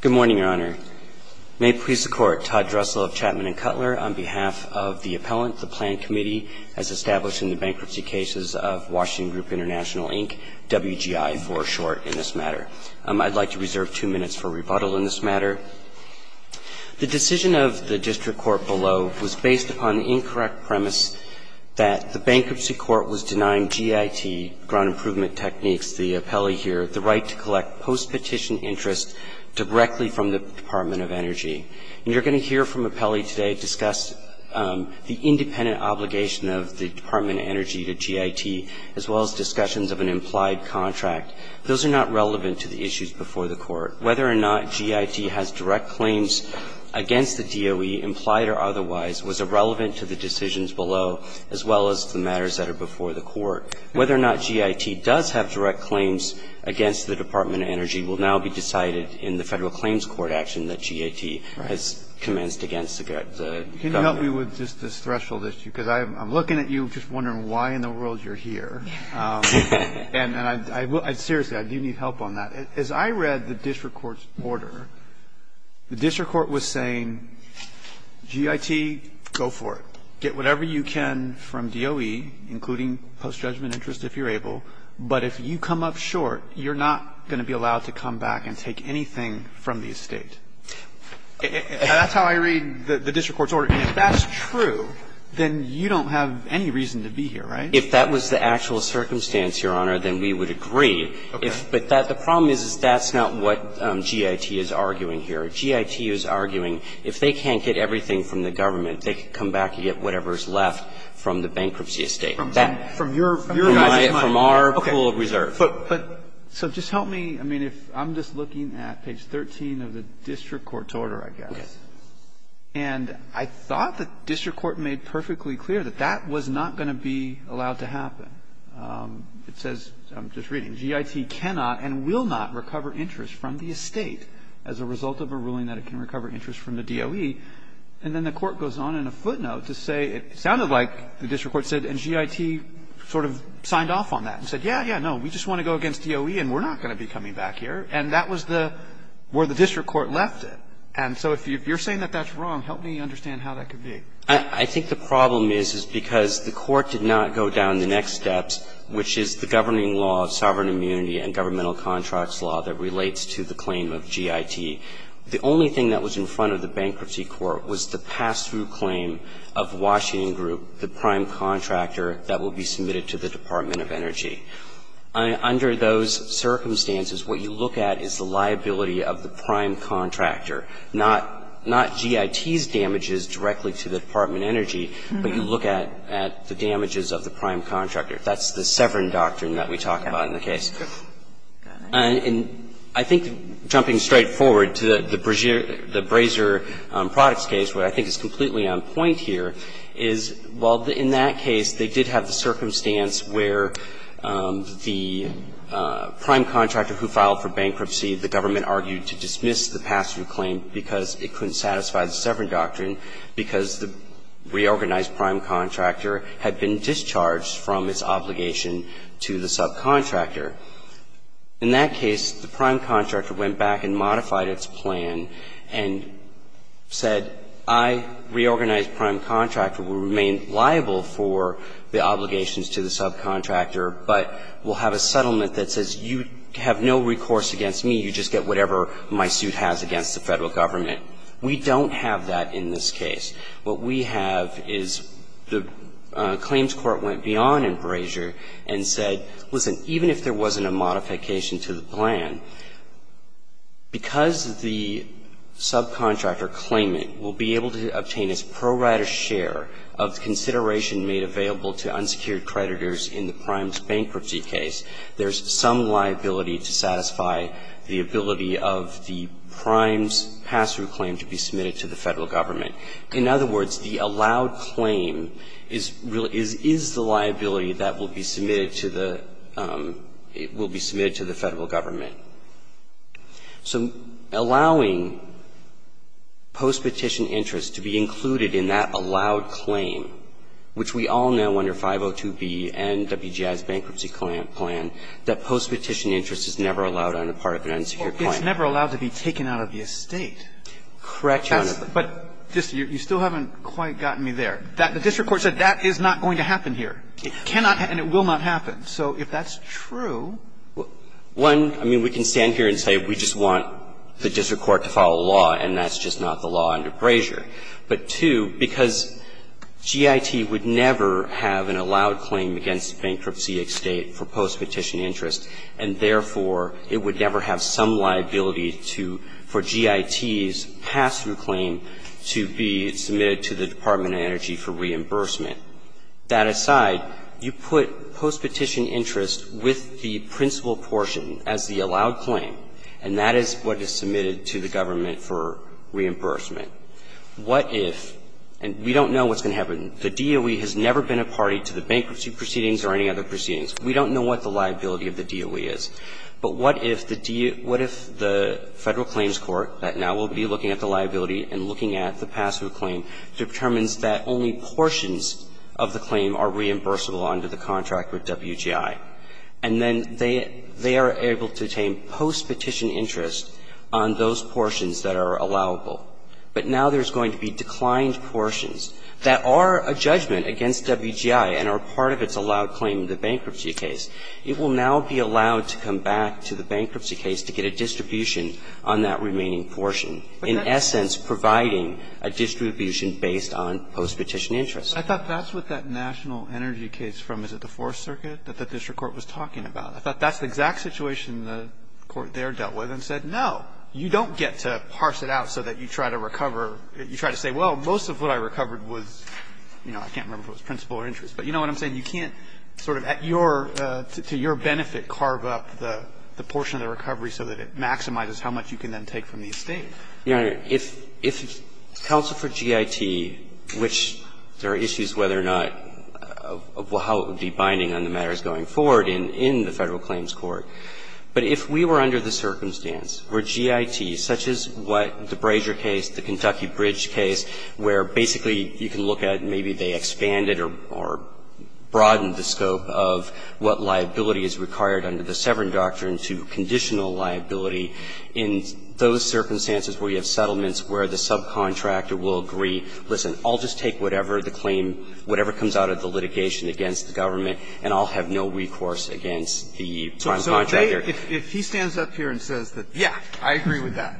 Good morning, Your Honor. May it please the Court, Todd Dressel of Chapman & Cutler on behalf of the Appellant, the Plan Committee, as established in the bankruptcy cases of Washington Group International, Inc., WGI for short in this matter. I'd like to reserve two minutes for rebuttal in this matter. The decision of the District Court below was based upon the incorrect premise that the bankruptcy court was denying GIT, Ground Improvement Techniques, the appellee here, the right to collect post-petition interest directly from the Department of Energy. And you're going to hear from an appellee today discuss the independent obligation of the Department of Energy to GIT as well as discussions of an implied contract. Those are not relevant to the issues before the Court. Whether or not GIT has direct claims against the DOE, implied or otherwise, was irrelevant to the decisions below as well as the matters that are before the Court. Whether or not GIT does have direct claims against the Department of Energy will now be decided in the Federal Claims Court action that GIT has commenced against the government. Can you help me with just this threshold issue? Because I'm looking at you just wondering why in the world you're here. And I will – seriously, I do need help on that. As I read the district court's order, the district court was saying, GIT, go for it. Get whatever you can from DOE, including post-judgment interest if you're able. But if you come up short, you're not going to be allowed to come back and take anything from the estate. That's how I read the district court's order. And if that's true, then you don't have any reason to be here, right? If that was the actual circumstance, Your Honor, then we would agree. Okay. But the problem is that's not what GIT is arguing here. GIT is arguing if they can't get everything from the government, they can come back and get whatever's left from the bankruptcy estate. From your guys' money. From our pool of reserve. But so just help me. I mean, if I'm just looking at page 13 of the district court's order, I guess. Yes. And I thought the district court made perfectly clear that that was not going to be allowed to happen. It says, I'm just reading, GIT cannot and will not recover interest from the estate as a result of a ruling that it can recover interest from the DOE. And then the court goes on in a footnote to say it sounded like the district court said, and GIT sort of signed off on that and said, yeah, yeah, no, we just want to go against DOE and we're not going to be coming back here. And that was the, where the district court left it. And so if you're saying that that's wrong, help me understand how that could be. I think the problem is, is because the court did not go down the next steps, which is the governing law of sovereign immunity and governmental contracts law that relates to the claim of GIT. The only thing that was in front of the bankruptcy court was the pass-through claim of Washington Group, the prime contractor that will be submitted to the Department of Energy. Under those circumstances, what you look at is the liability of the prime contractor, not GIT's damages directly to the Department of Energy, but you look at the damages of the prime contractor. That's the Severn doctrine that we talk about in the case. And I think, jumping straight forward to the Brazier Products case, what I think is completely on point here is, while in that case they did have the circumstance where the prime contractor who filed for bankruptcy, the government argued to dismiss the pass-through claim because it couldn't satisfy the Severn doctrine because the reorganized prime contractor had been discharged from its obligation to the subcontractor. In that case, the prime contractor went back and modified its plan and said, I, reorganized prime contractor, will remain liable for the obligations to the subcontractor, but will have a settlement that says you have no recourse against me. You just get whatever my suit has against the Federal government. We don't have that in this case. What we have is the claims court went beyond in Brazier and said, listen, even if there wasn't a modification to the plan, because the subcontractor claimant will be able to obtain his pro rata share of consideration made available to unsecured creditors in the prime's bankruptcy case, there's some liability to satisfy the ability of the prime's pass-through claim to be submitted to the Federal government. In other words, the allowed claim is the liability that will be submitted to the Federal government. So allowing post-petition interest to be included in that allowed claim, which we all know under 502B and WGI's bankruptcy plan, that post-petition interest is never allowed on the part of an unsecured client. It's never allowed to be taken out of the estate. Correct, Your Honor. But you still haven't quite gotten me there. The district court said that is not going to happen here. It cannot and it will not happen. So if that's true. One, I mean, we can stand here and say we just want the district court to follow law, and that's just not the law under Brazier. But, two, because GIT would never have an allowed claim against bankruptcy estate for post-petition interest, and therefore, it would never have some liability for GIT's pass-through claim to be submitted to the Department of Energy for reimbursement. That aside, you put post-petition interest with the principal portion as the allowed claim, and that is what is submitted to the government for reimbursement. What if, and we don't know what's going to happen. The DOE has never been a party to the bankruptcy proceedings or any other proceedings. We don't know what the liability of the DOE is. But what if the federal claims court that now will be looking at the liability and looking at the pass-through claim determines that only portions of the claim are reimbursable under the contract with WGI, and then they are able to obtain post-petition interest on those portions that are allowable. But now there's going to be declined portions that are a judgment against WGI and are part of its allowed claim in the bankruptcy case. It will now be allowed to come back to the bankruptcy case to get a distribution on that remaining portion, in essence, providing a distribution based on post-petition interest. I thought that's what that national energy case from, is it the Fourth Circuit, that the district court was talking about. I thought that's the exact situation the court there dealt with and said, no, you don't get to parse it out so that you try to recover. You try to say, well, most of what I recovered was, you know, I can't remember if it was principal or interest. But you know what I'm saying. You can't sort of at your, to your benefit, carve up the portion of the recovery so that it maximizes how much you can then take from the estate. Burschell, Your Honor, if counsel for GIT, which there are issues whether or not of how it would be binding on the matters going forward in the Federal Claims Court, but if we were under the circumstance where GIT, such as what the Brazier case, the Kentucky Bridge case, where basically you can look at maybe they expanded or broadened the scope of what liability is required under the Severn doctrine to conditional liability, in those circumstances where you have settlements where the subcontractor will agree, listen, I'll just take whatever the claim, whatever comes out of the litigation against the government, and I'll have no recourse against the prime contractor. Alito, if he stands up here and says, yeah, I agree with that,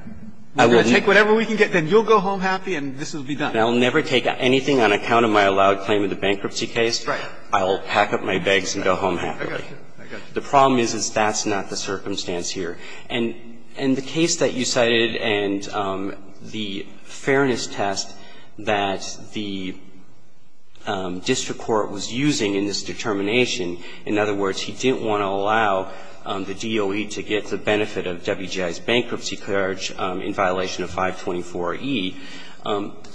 we're going to take whatever we can get, then you'll go home happy, and this will be done. And I'll never take anything on account of my allowed claim in the bankruptcy case. Right. I'll pack up my bags and go home happily. I got you. I got you. The problem is, is that's not the circumstance here. And the case that you cited and the fairness test that the district court was using in this determination, in other words, he didn't want to allow the DOE to get the benefit of WGI's bankruptcy charge in violation of 524E,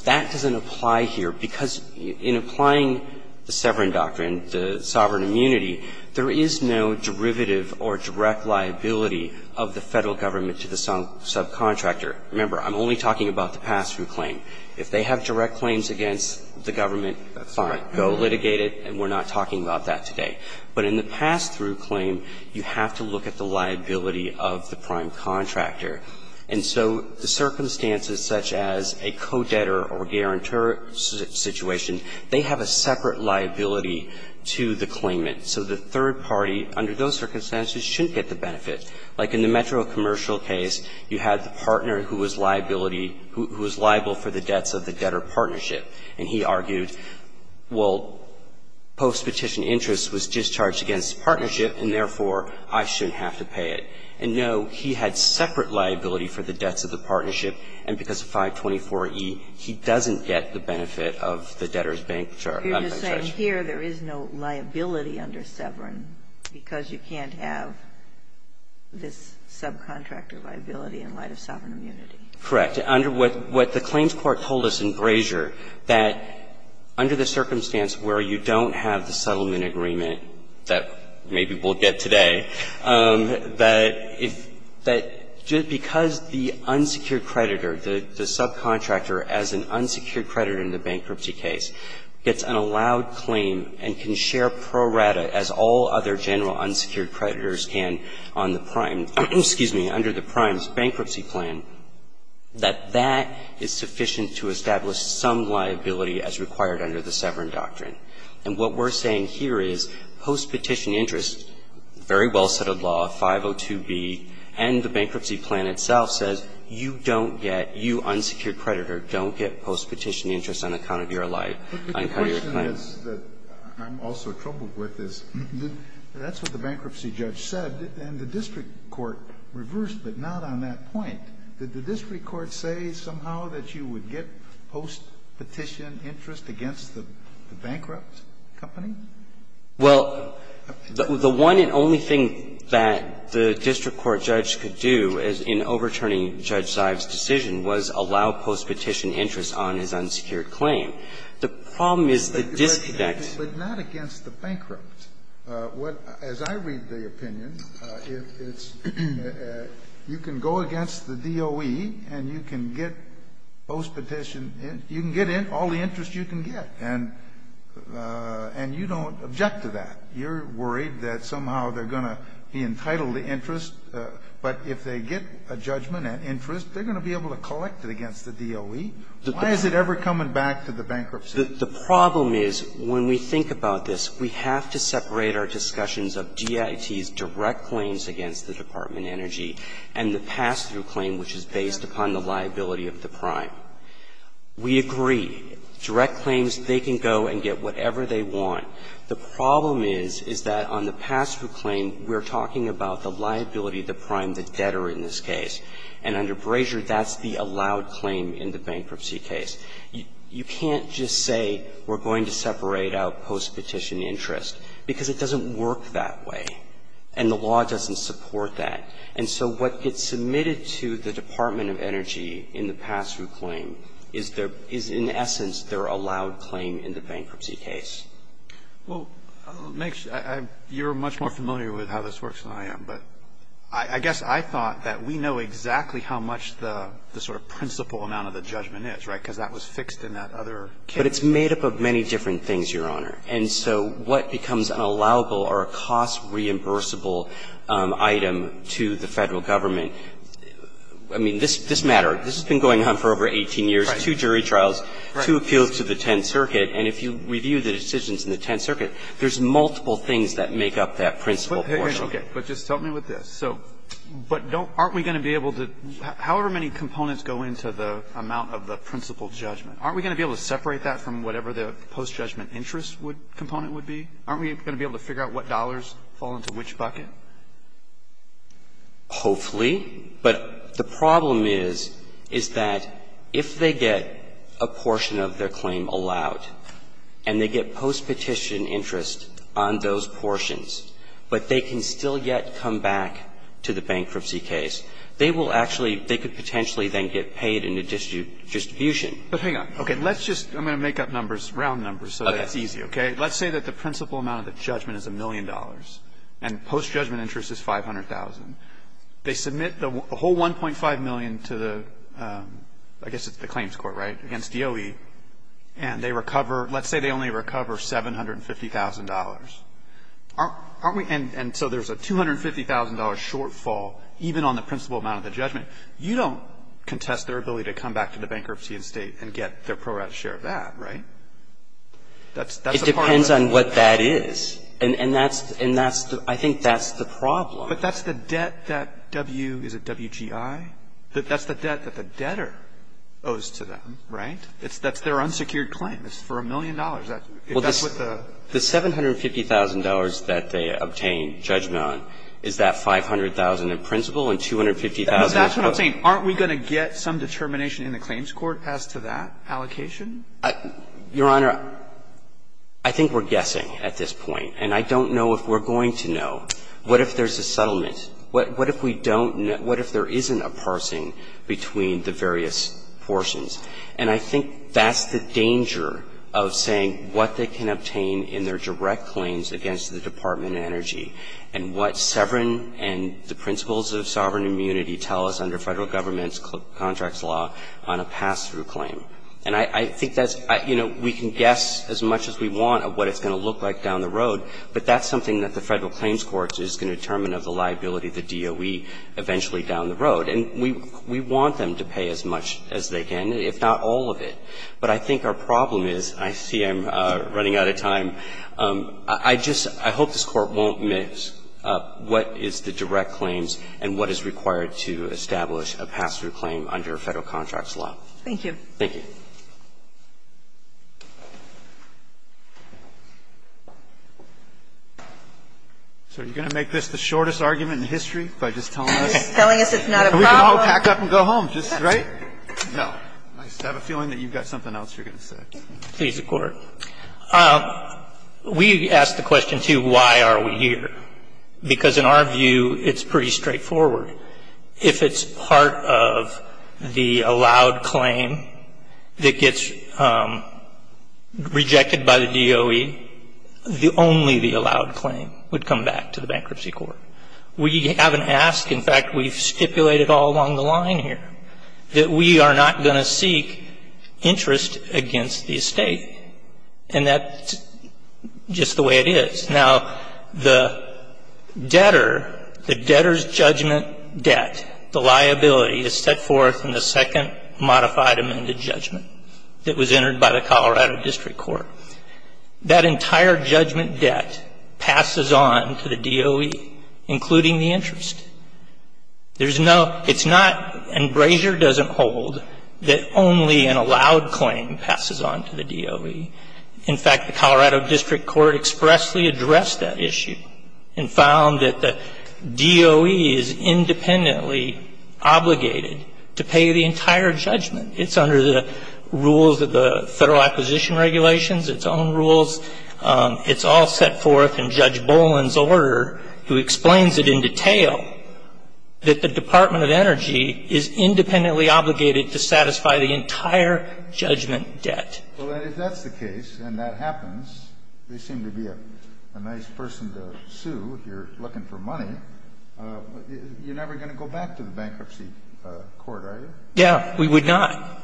that doesn't apply here, because in applying the Severn doctrine, the sovereign immunity, there is no derivative or direct liability of the Federal government to the subcontractor. Remember, I'm only talking about the pass-through claim. If they have direct claims against the government, fine. Go litigate it, and we're not talking about that today. But in the pass-through claim, you have to look at the liability of the prime contractor. And so the circumstances such as a co-debtor or guarantor situation, they have a separate liability to the claimant. So the third party, under those circumstances, shouldn't get the benefit. Like in the Metro Commercial case, you had the partner who was liability, who was liable for the debts of the debtor partnership. And he argued, well, post-petition interest was discharged against partnership, and therefore, I shouldn't have to pay it. And no, he had separate liability for the debts of the partnership, and because of 524E, he doesn't get the benefit of the debtor's bankruptcy charge. Ginsburg. You're just saying here there is no liability under Severn because you can't have this subcontractor liability in light of sovereign immunity. Correct. Under what the Claims Court told us in Grazier, that under the circumstance where you don't have the settlement agreement that maybe we'll get today, that if that just because the unsecured creditor, the subcontractor as an unsecured creditor in the bankruptcy case, gets an allowed claim and can share pro rata as all other general unsecured creditors can on the prime, excuse me, under the prime's claim, that that is sufficient to establish some liability as required under the Severn doctrine. And what we're saying here is post-petition interest, very well-settled law, 502B, and the bankruptcy plan itself says you don't get, you unsecured creditor don't get post-petition interest on account of your life, on account of your claim. But the question is, that I'm also troubled with, is that's what the bankruptcy judge said, and the district court reversed, but not on that point. Did the district court say somehow that you would get post-petition interest against the bankrupt company? Well, the one and only thing that the district court judge could do in overturning Judge Zives' decision was allow post-petition interest on his unsecured claim. The problem is the district. But not against the bankrupt. What, as I read the opinion, it's, you can go against the DOE and you can get post-petition you can get in all the interest you can get, and you don't object to that. You're worried that somehow they're going to be entitled to interest, but if they get a judgment and interest, they're going to be able to collect it against the DOE. Why is it ever coming back to the bankruptcy? The problem is, when we think about this, we have to separate our discussions of DIT's direct claims against the Department of Energy and the pass-through claim, which is based upon the liability of the prime. We agree, direct claims, they can go and get whatever they want. The problem is, is that on the pass-through claim, we're talking about the liability of the prime, the debtor in this case. And under Brasier, that's the allowed claim in the bankruptcy case. You can't just say we're going to separate out post-petition interest, because it doesn't work that way, and the law doesn't support that. And so what gets submitted to the Department of Energy in the pass-through claim is their, is in essence, their allowed claim in the bankruptcy case. Well, it makes, you're much more familiar with how this works than I am, but I guess I thought that we know exactly how much the sort of principal amount of the judgment is, right, because that was fixed in that other case. But it's made up of many different things, Your Honor. And so what becomes an allowable or a cost-reimbursable item to the Federal Government, I mean, this matter, this has been going on for over 18 years, two jury trials, two appeals to the Tenth Circuit, and if you review the decisions in the Tenth Circuit, there's multiple things that make up that principal portion. Alito, but just help me with this. So, but don't, aren't we going to be able to, however many components go into the amount of the principal judgment, aren't we going to be able to separate that from whatever the post-judgment interest component would be? Aren't we going to be able to figure out what dollars fall into which bucket? Hopefully. But the problem is, is that if they get a portion of their claim allowed, and they get post-petition interest on those portions, but they can still yet come back to the bankruptcy case, they will actually, they could potentially then get paid in the distribution. But hang on. Okay. Let's just, I'm going to make up numbers, round numbers, so that it's easy, okay? Let's say that the principal amount of the judgment is $1 million, and post-judgment interest is $500,000. They submit the whole $1.5 million to the, I guess it's the claims court, right, against DOE, and they recover, let's say they only recover $750,000. Aren't we, and so there's a $250,000 shortfall, even on the principal amount of the judgment. You don't contest their ability to come back to the bankruptcy estate and get their pro-rat share of that, right? That's a part of the problem. It depends on what that is, and that's, and that's the, I think that's the problem. But that's the debt that W, is it WGI, that's the debt that the debtor owes to them, right? It's, that's their unsecured claim. It's for $1 million. That's what the the $750,000 that they obtain judgment on is that $500,000 in principal and $250,000. That's what I'm saying. Aren't we going to get some determination in the claims court as to that allocation? Your Honor, I think we're guessing at this point, and I don't know if we're going to know. What if there's a settlement? What if we don't know, what if there isn't a parsing between the various portions? And I think that's the danger of saying what they can obtain in their direct claims against the Department of Energy, and what Severin and the principles of sovereign immunity tell us under federal government's contracts law on a pass-through claim. And I, I think that's, I, you know, we can guess as much as we want of what it's going to look like down the road, but that's something that the federal claims court is going to determine of the liability of the DOE eventually down the road. And we, we want them to pay as much as they can, if not all of it. But I think our problem is, I see I'm running out of time. I just, I hope this Court won't miss what is the direct claims and what is required to establish a pass-through claim under federal contracts law. Thank you. Thank you. So are you going to make this the shortest argument in history by just telling us? And we can all pack up and go home, just, right? No. I have a feeling that you've got something else you're going to say. Please, Your Court. We ask the question, too, why are we here? Because in our view, it's pretty straightforward. If it's part of the allowed claim that gets rejected by the DOE, the only the allowed claim would come back to the bankruptcy court. We haven't asked, in fact, we've stipulated all along the line here, that we are not going to seek interest against the estate. And that's just the way it is. Now, the debtor, the debtor's judgment debt, the liability is set forth in the second modified amended judgment that was entered by the Colorado District Court. That entire judgment debt passes on to the DOE, including the interest. There's no, it's not, and Brazier doesn't hold, that only an allowed claim passes on to the DOE. In fact, the Colorado District Court expressly addressed that issue and found that the DOE is independently obligated to pay the entire judgment. It's under the rules of the Federal Acquisition Regulations, its own rules. It's all set forth in Judge Boland's order, who explains it in detail, that the Department of Energy is independently obligated to satisfy the entire judgment debt. Well, if that's the case, and that happens, they seem to be a nice person to sue if you're looking for money, you're never going to go back to the bankruptcy court, are you? Yeah, we would not.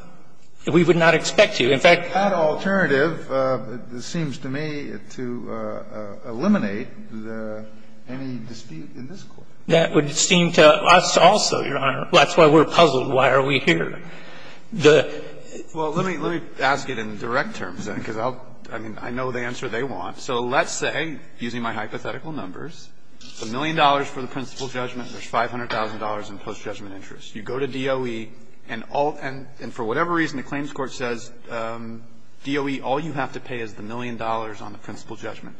We would not expect to. In fact, that alternative seems to me to eliminate the any dispute in this court. That would seem to us also, Your Honor. That's why we're puzzled. Why are we here? The ---- Well, let me, let me ask it in direct terms, then, because I'll, I mean, I know the answer they want. So let's say, using my hypothetical numbers, $1 million for the principal judgment, there's $500,000 in post-judgment interest. You go to DOE, and all, and for whatever reason, the claims court says, DOE, all you have to pay is the $1 million on the principal judgment.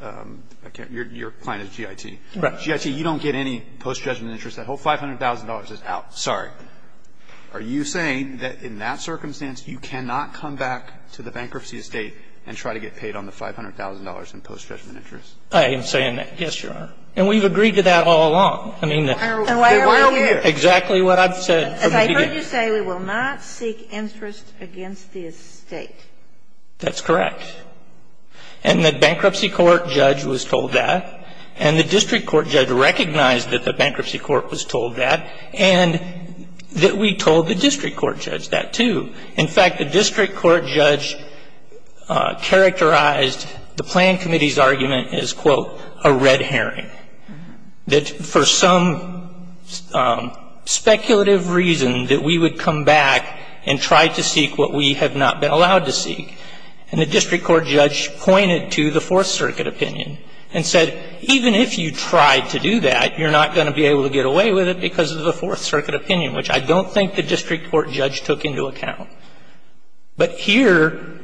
I can't, your client is G.I.T. G.I.T., you don't get any post-judgment interest. That whole $500,000 is out. Sorry. Are you saying that in that circumstance, you cannot come back to the bankruptcy estate and try to get paid on the $500,000 in post-judgment interest? I am saying that, yes, Your Honor. And we've agreed to that all along. I mean, the ---- And why are we here? Exactly what I've said. As I heard you say, we will not seek interest against the estate. That's correct. And the bankruptcy court judge was told that. And the district court judge recognized that the bankruptcy court was told that. And that we told the district court judge that, too. In fact, the district court judge characterized the plan committee's argument as, quote, a red herring. That for some speculative reason, that we would come back and try to seek what we have not been allowed to seek. And the district court judge pointed to the Fourth Circuit opinion and said, even if you tried to do that, you're not going to be able to get away with it because of the Fourth Circuit opinion, which I don't think the district court judge took into account. But here,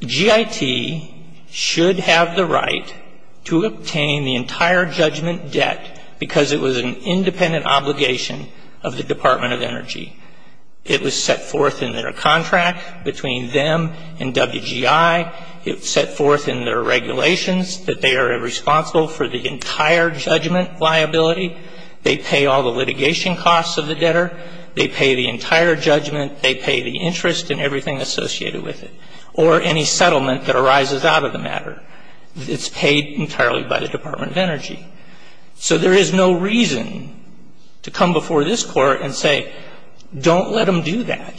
GIT should have the right to obtain the entire judgment debt because it was an independent obligation of the Department of Energy. It was set forth in their contract between them and WGI. It was set forth in their regulations that they are responsible for the entire judgment liability. They pay all the litigation costs of the debtor. They pay the entire judgment. They pay the interest and everything associated with it. Or any settlement that arises out of the matter. It's paid entirely by the Department of Energy. So there is no reason to come before this court and say, don't let them do that.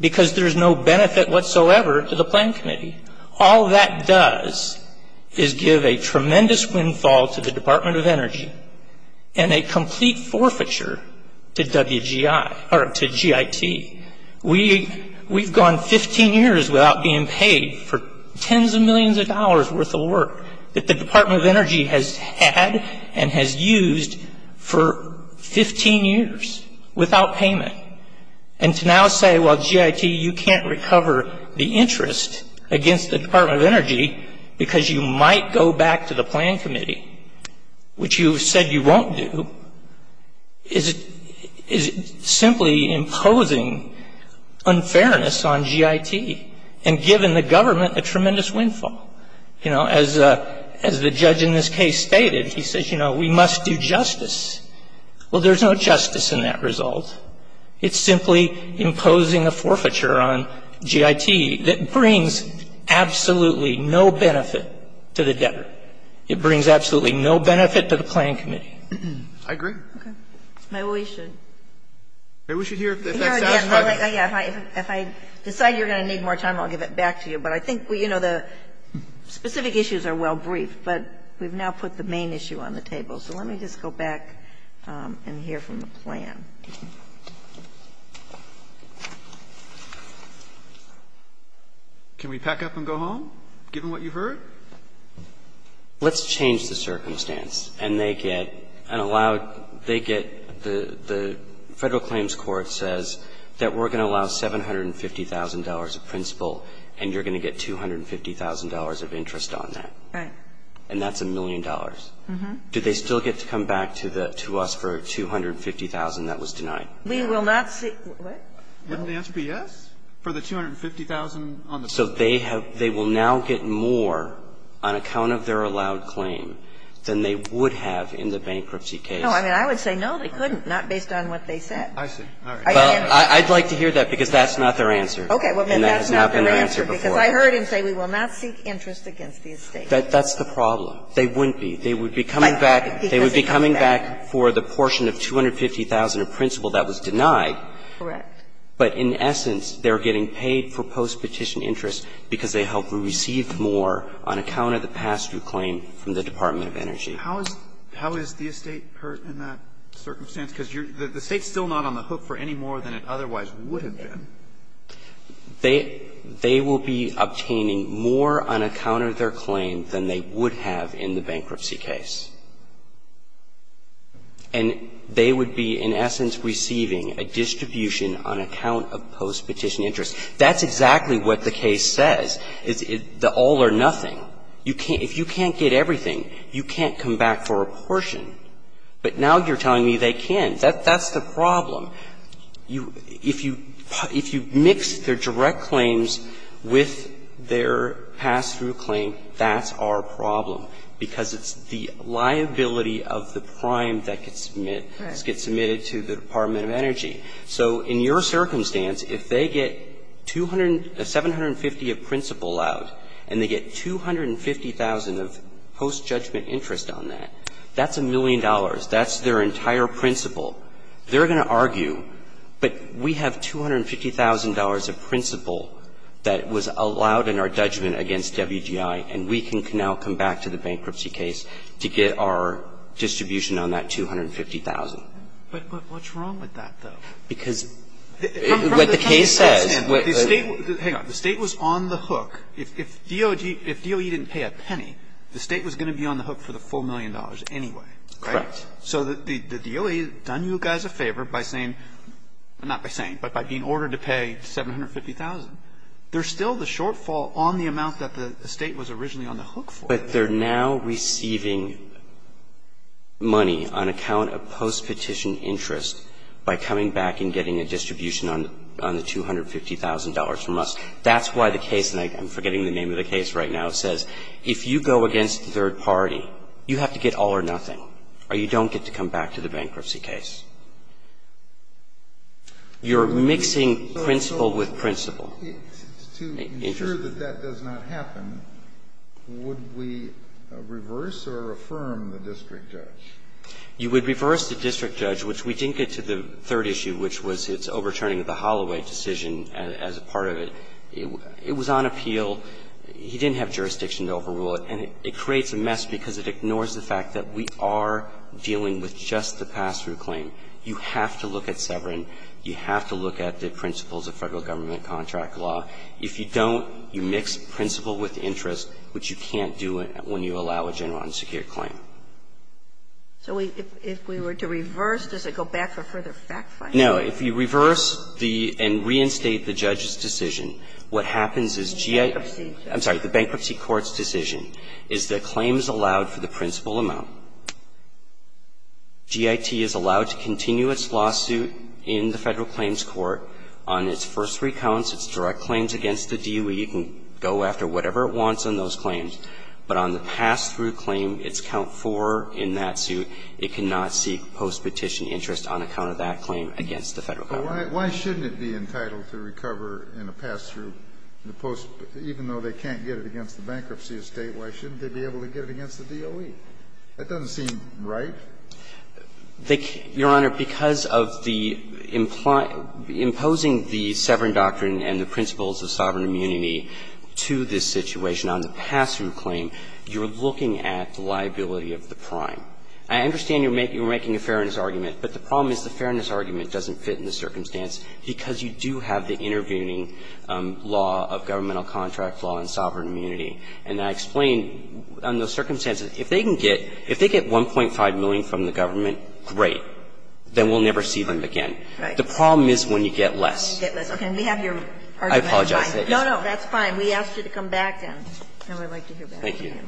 Because there's no benefit whatsoever to the plan committee. All that does is give a tremendous windfall to the Department of Energy and a complete forfeiture to WGI or to GIT. We've gone 15 years without being paid for tens of millions of dollars worth of work that the Department of Energy has had and has used for 15 years without payment. And to now say, well, GIT, you can't recover the interest against the Department of Energy because you might go back to the plan committee, which you said you won't do, is simply imposing unfairness on GIT and giving the government a tremendous windfall. You know, as the judge in this case stated, he says, you know, we must do justice. Well, there's no justice in that result. It's simply imposing a forfeiture on GIT that brings absolutely no benefit to the debtor. It brings absolutely no benefit to the plan committee. I agree. Okay. Maybe we should. Maybe we should hear if that sounds like it. If I decide you're going to need more time, I'll give it back to you. But I think, you know, the specific issues are well briefed, but we've now put the main issue on the table. So let me just go back and hear from the plan. Can we pack up and go home, given what you've heard? Let's change the circumstance and they get an allowed they get the Federal Claims Court says that we're going to allow $750,000 of principal and you're going to get $250,000 of interest on that. Right. And that's a million dollars. Do they still get to come back to the to us for $250,000 that was denied? We will not see. So they have they will now get more on account of their allowed claim than they would have in the bankruptcy case. No, I mean, I would say no, they couldn't, not based on what they said. I see. All right. I'd like to hear that because that's not their answer. Okay. Well, that's not their answer because I heard him say we will not seek interest against the estate. That's the problem. They wouldn't be. They would be coming back. They would be coming back for the portion of $250,000 of principal that was denied. Correct. But in essence, they're getting paid for post-petition interest because they help receive more on account of the past due claim from the Department of Energy. How is the estate hurt in that circumstance? Because the estate's still not on the hook for any more than it otherwise would have been. They will be obtaining more on account of their claim than they would have in the bankruptcy case. And they would be, in essence, receiving a distribution on account of post-petition interest. That's exactly what the case says, is the all or nothing. You can't – if you can't get everything, you can't come back for a portion. But now you're telling me they can. That's the problem. If you mix their direct claims with their past due claim, that's our problem because it's the liability of the prime that gets submitted to the Department of Energy. So in your circumstance, if they get $750,000 of principal out and they get $250,000 of post-judgment interest on that, that's a million dollars. That's their entire principal. They're going to argue, but we have $250,000 of principal that was allowed in our bankruptcy case to get our distribution on that $250,000. But what's wrong with that, though? Because what the case says – Hang on. The State was on the hook. If DOE didn't pay a penny, the State was going to be on the hook for the full million dollars anyway, right? Correct. So the DOE has done you guys a favor by saying – not by saying, but by being ordered to pay $750,000. There's still the shortfall on the amount that the State was originally on the hook for. But they're now receiving money on account of post-petition interest by coming back and getting a distribution on the $250,000 from us. That's why the case – and I'm forgetting the name of the case right now. It says if you go against the third party, you have to get all or nothing, or you don't get to come back to the bankruptcy case. You're mixing principal with principal. So to ensure that that does not happen, would we reverse or affirm the district judge? You would reverse the district judge, which we didn't get to the third issue, which was its overturning of the Holloway decision as a part of it. It was on appeal. He didn't have jurisdiction to overrule it. And it creates a mess because it ignores the fact that we are dealing with just the pass-through claim. You have to look at Severin. You have to look at the principles of Federal Government contract law. If you don't, you mix principal with interest, which you can't do when you allow a general unsecured claim. So if we were to reverse, does it go back for further fact-finding? No. If you reverse the – and reinstate the judge's decision, what happens is GIT – Bankruptcy. I'm sorry. The bankruptcy court's decision is that claims allowed for the principal amount. GIT is allowed to continue its lawsuit in the Federal Claims Court on its first three counts, its direct claims against the DOE. You can go after whatever it wants on those claims. But on the pass-through claim, its count four in that suit, it cannot seek post-petition interest on account of that claim against the Federal Government. Why shouldn't it be entitled to recover in a pass-through in the post – even though they can't get it against the bankruptcy estate, why shouldn't they be able to get it against the DOE? That doesn't seem right. Your Honor, because of the – imposing the Severing Doctrine and the principles of sovereign immunity to this situation on the pass-through claim, you're looking at the liability of the prime. I understand you're making a fairness argument, but the problem is the fairness argument doesn't fit in the circumstance because you do have the intervening law of governmental contract law and sovereign immunity. And I explained on those circumstances, if they can get – if they get $1.5 million from the government, great. Then we'll never see them again. The problem is when you get less. Okay. We have your argument. I apologize. No, no. That's fine. We asked you to come back and we'd like to hear back from you. Thank you.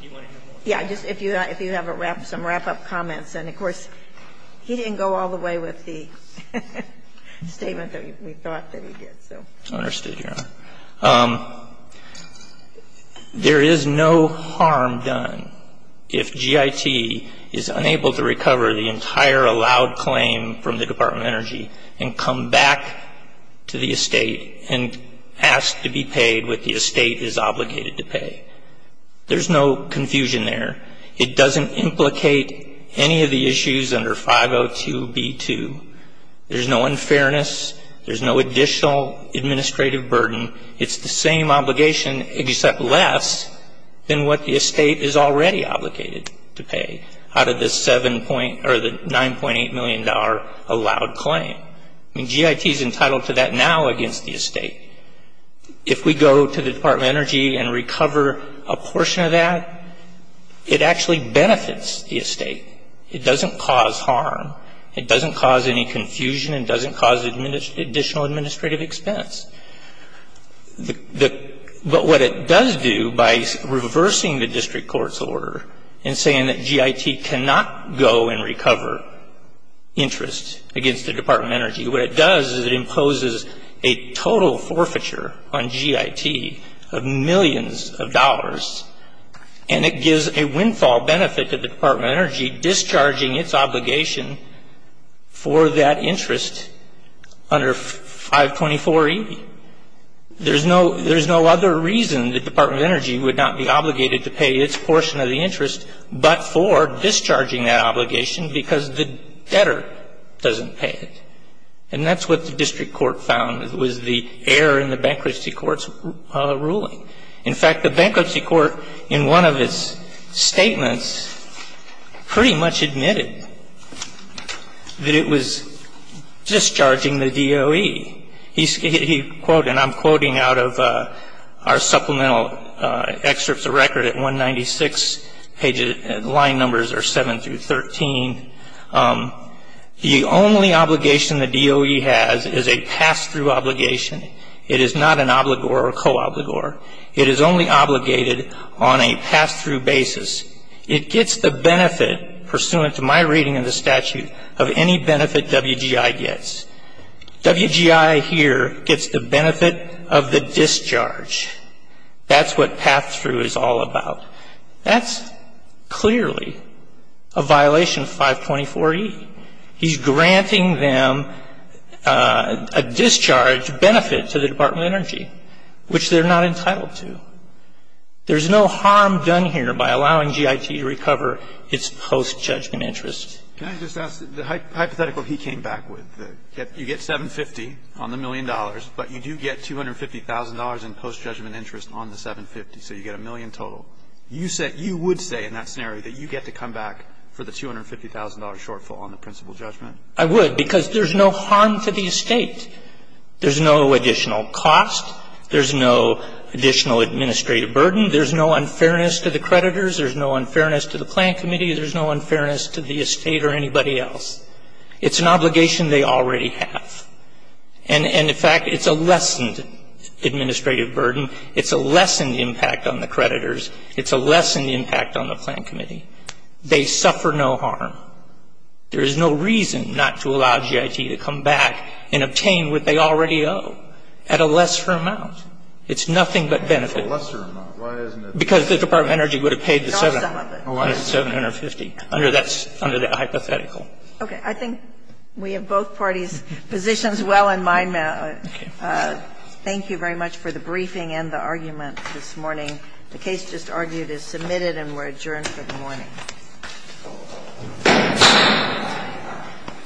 Do you want to hear more? Yeah. Just if you have a wrap – some wrap-up comments. he did, so. I understand, Your Honor. There is no harm done if G.I.T. is unable to recover the entire allowed claim from the Department of Energy and come back to the estate and ask to be paid what the estate is obligated to pay. There's no confusion there. It doesn't implicate any of the issues under 502B2. There's no unfairness. There's no additional administrative burden. It's the same obligation except less than what the estate is already obligated to pay out of this $9.8 million allowed claim. I mean, G.I.T. is entitled to that now against the estate. If we go to the Department of Energy and recover a portion of that, it actually benefits the estate. It doesn't cause harm. It doesn't cause any confusion. It doesn't cause additional administrative expense. But what it does do by reversing the district court's order and saying that G.I.T. cannot go and recover interest against the Department of Energy, what it does is it imposes a total forfeiture on G.I.T. of millions of dollars and it gives a windfall benefit to the Department of Energy obligation for that interest under 524E. There's no other reason the Department of Energy would not be obligated to pay its portion of the interest but for discharging that obligation because the debtor doesn't pay it. And that's what the district court found was the error in the bankruptcy court's ruling. The district court pretty much admitted that it was discharging the DOE. He quoted, and I'm quoting out of our supplemental excerpts of record at 196, line numbers are 7 through 13, the only obligation the DOE has is a pass-through obligation. It is not an obligor or co-obligor. It is only obligated on a pass-through basis. It gets the benefit, pursuant to my reading of the statute, of any benefit W.G.I. gets. W.G.I. here gets the benefit of the discharge. That's what pass-through is all about. That's clearly a violation of 524E. He's granting them a discharge benefit to the Department of Energy, which they're not entitled to. There's no harm done here by allowing G.I.T. to recover its post-judgment interest. Can I just ask the hypothetical he came back with? You get 750 on the million dollars, but you do get $250,000 in post-judgment interest on the 750, so you get a million total. You would say in that scenario that you get to come back for the $250,000 shortfall on the principal judgment? I would, because there's no harm to the estate. There's no additional cost. There's no additional administrative burden. There's no unfairness to the creditors. There's no unfairness to the plan committee. There's no unfairness to the estate or anybody else. It's an obligation they already have. And, in fact, it's a lessened administrative burden. It's a lessened impact on the creditors. It's a lessened impact on the plan committee. They suffer no harm. There is no reason not to allow G.I.T. to come back and obtain what they already owe at a lesser amount. It's nothing but benefit. Because the Department of Energy would have paid the 750 under that hypothetical. Okay. I think we have both parties' positions well in mind now. Thank you very much for the briefing and the argument this morning. The case just argued is submitted and we're adjourned for the morning. Thank you.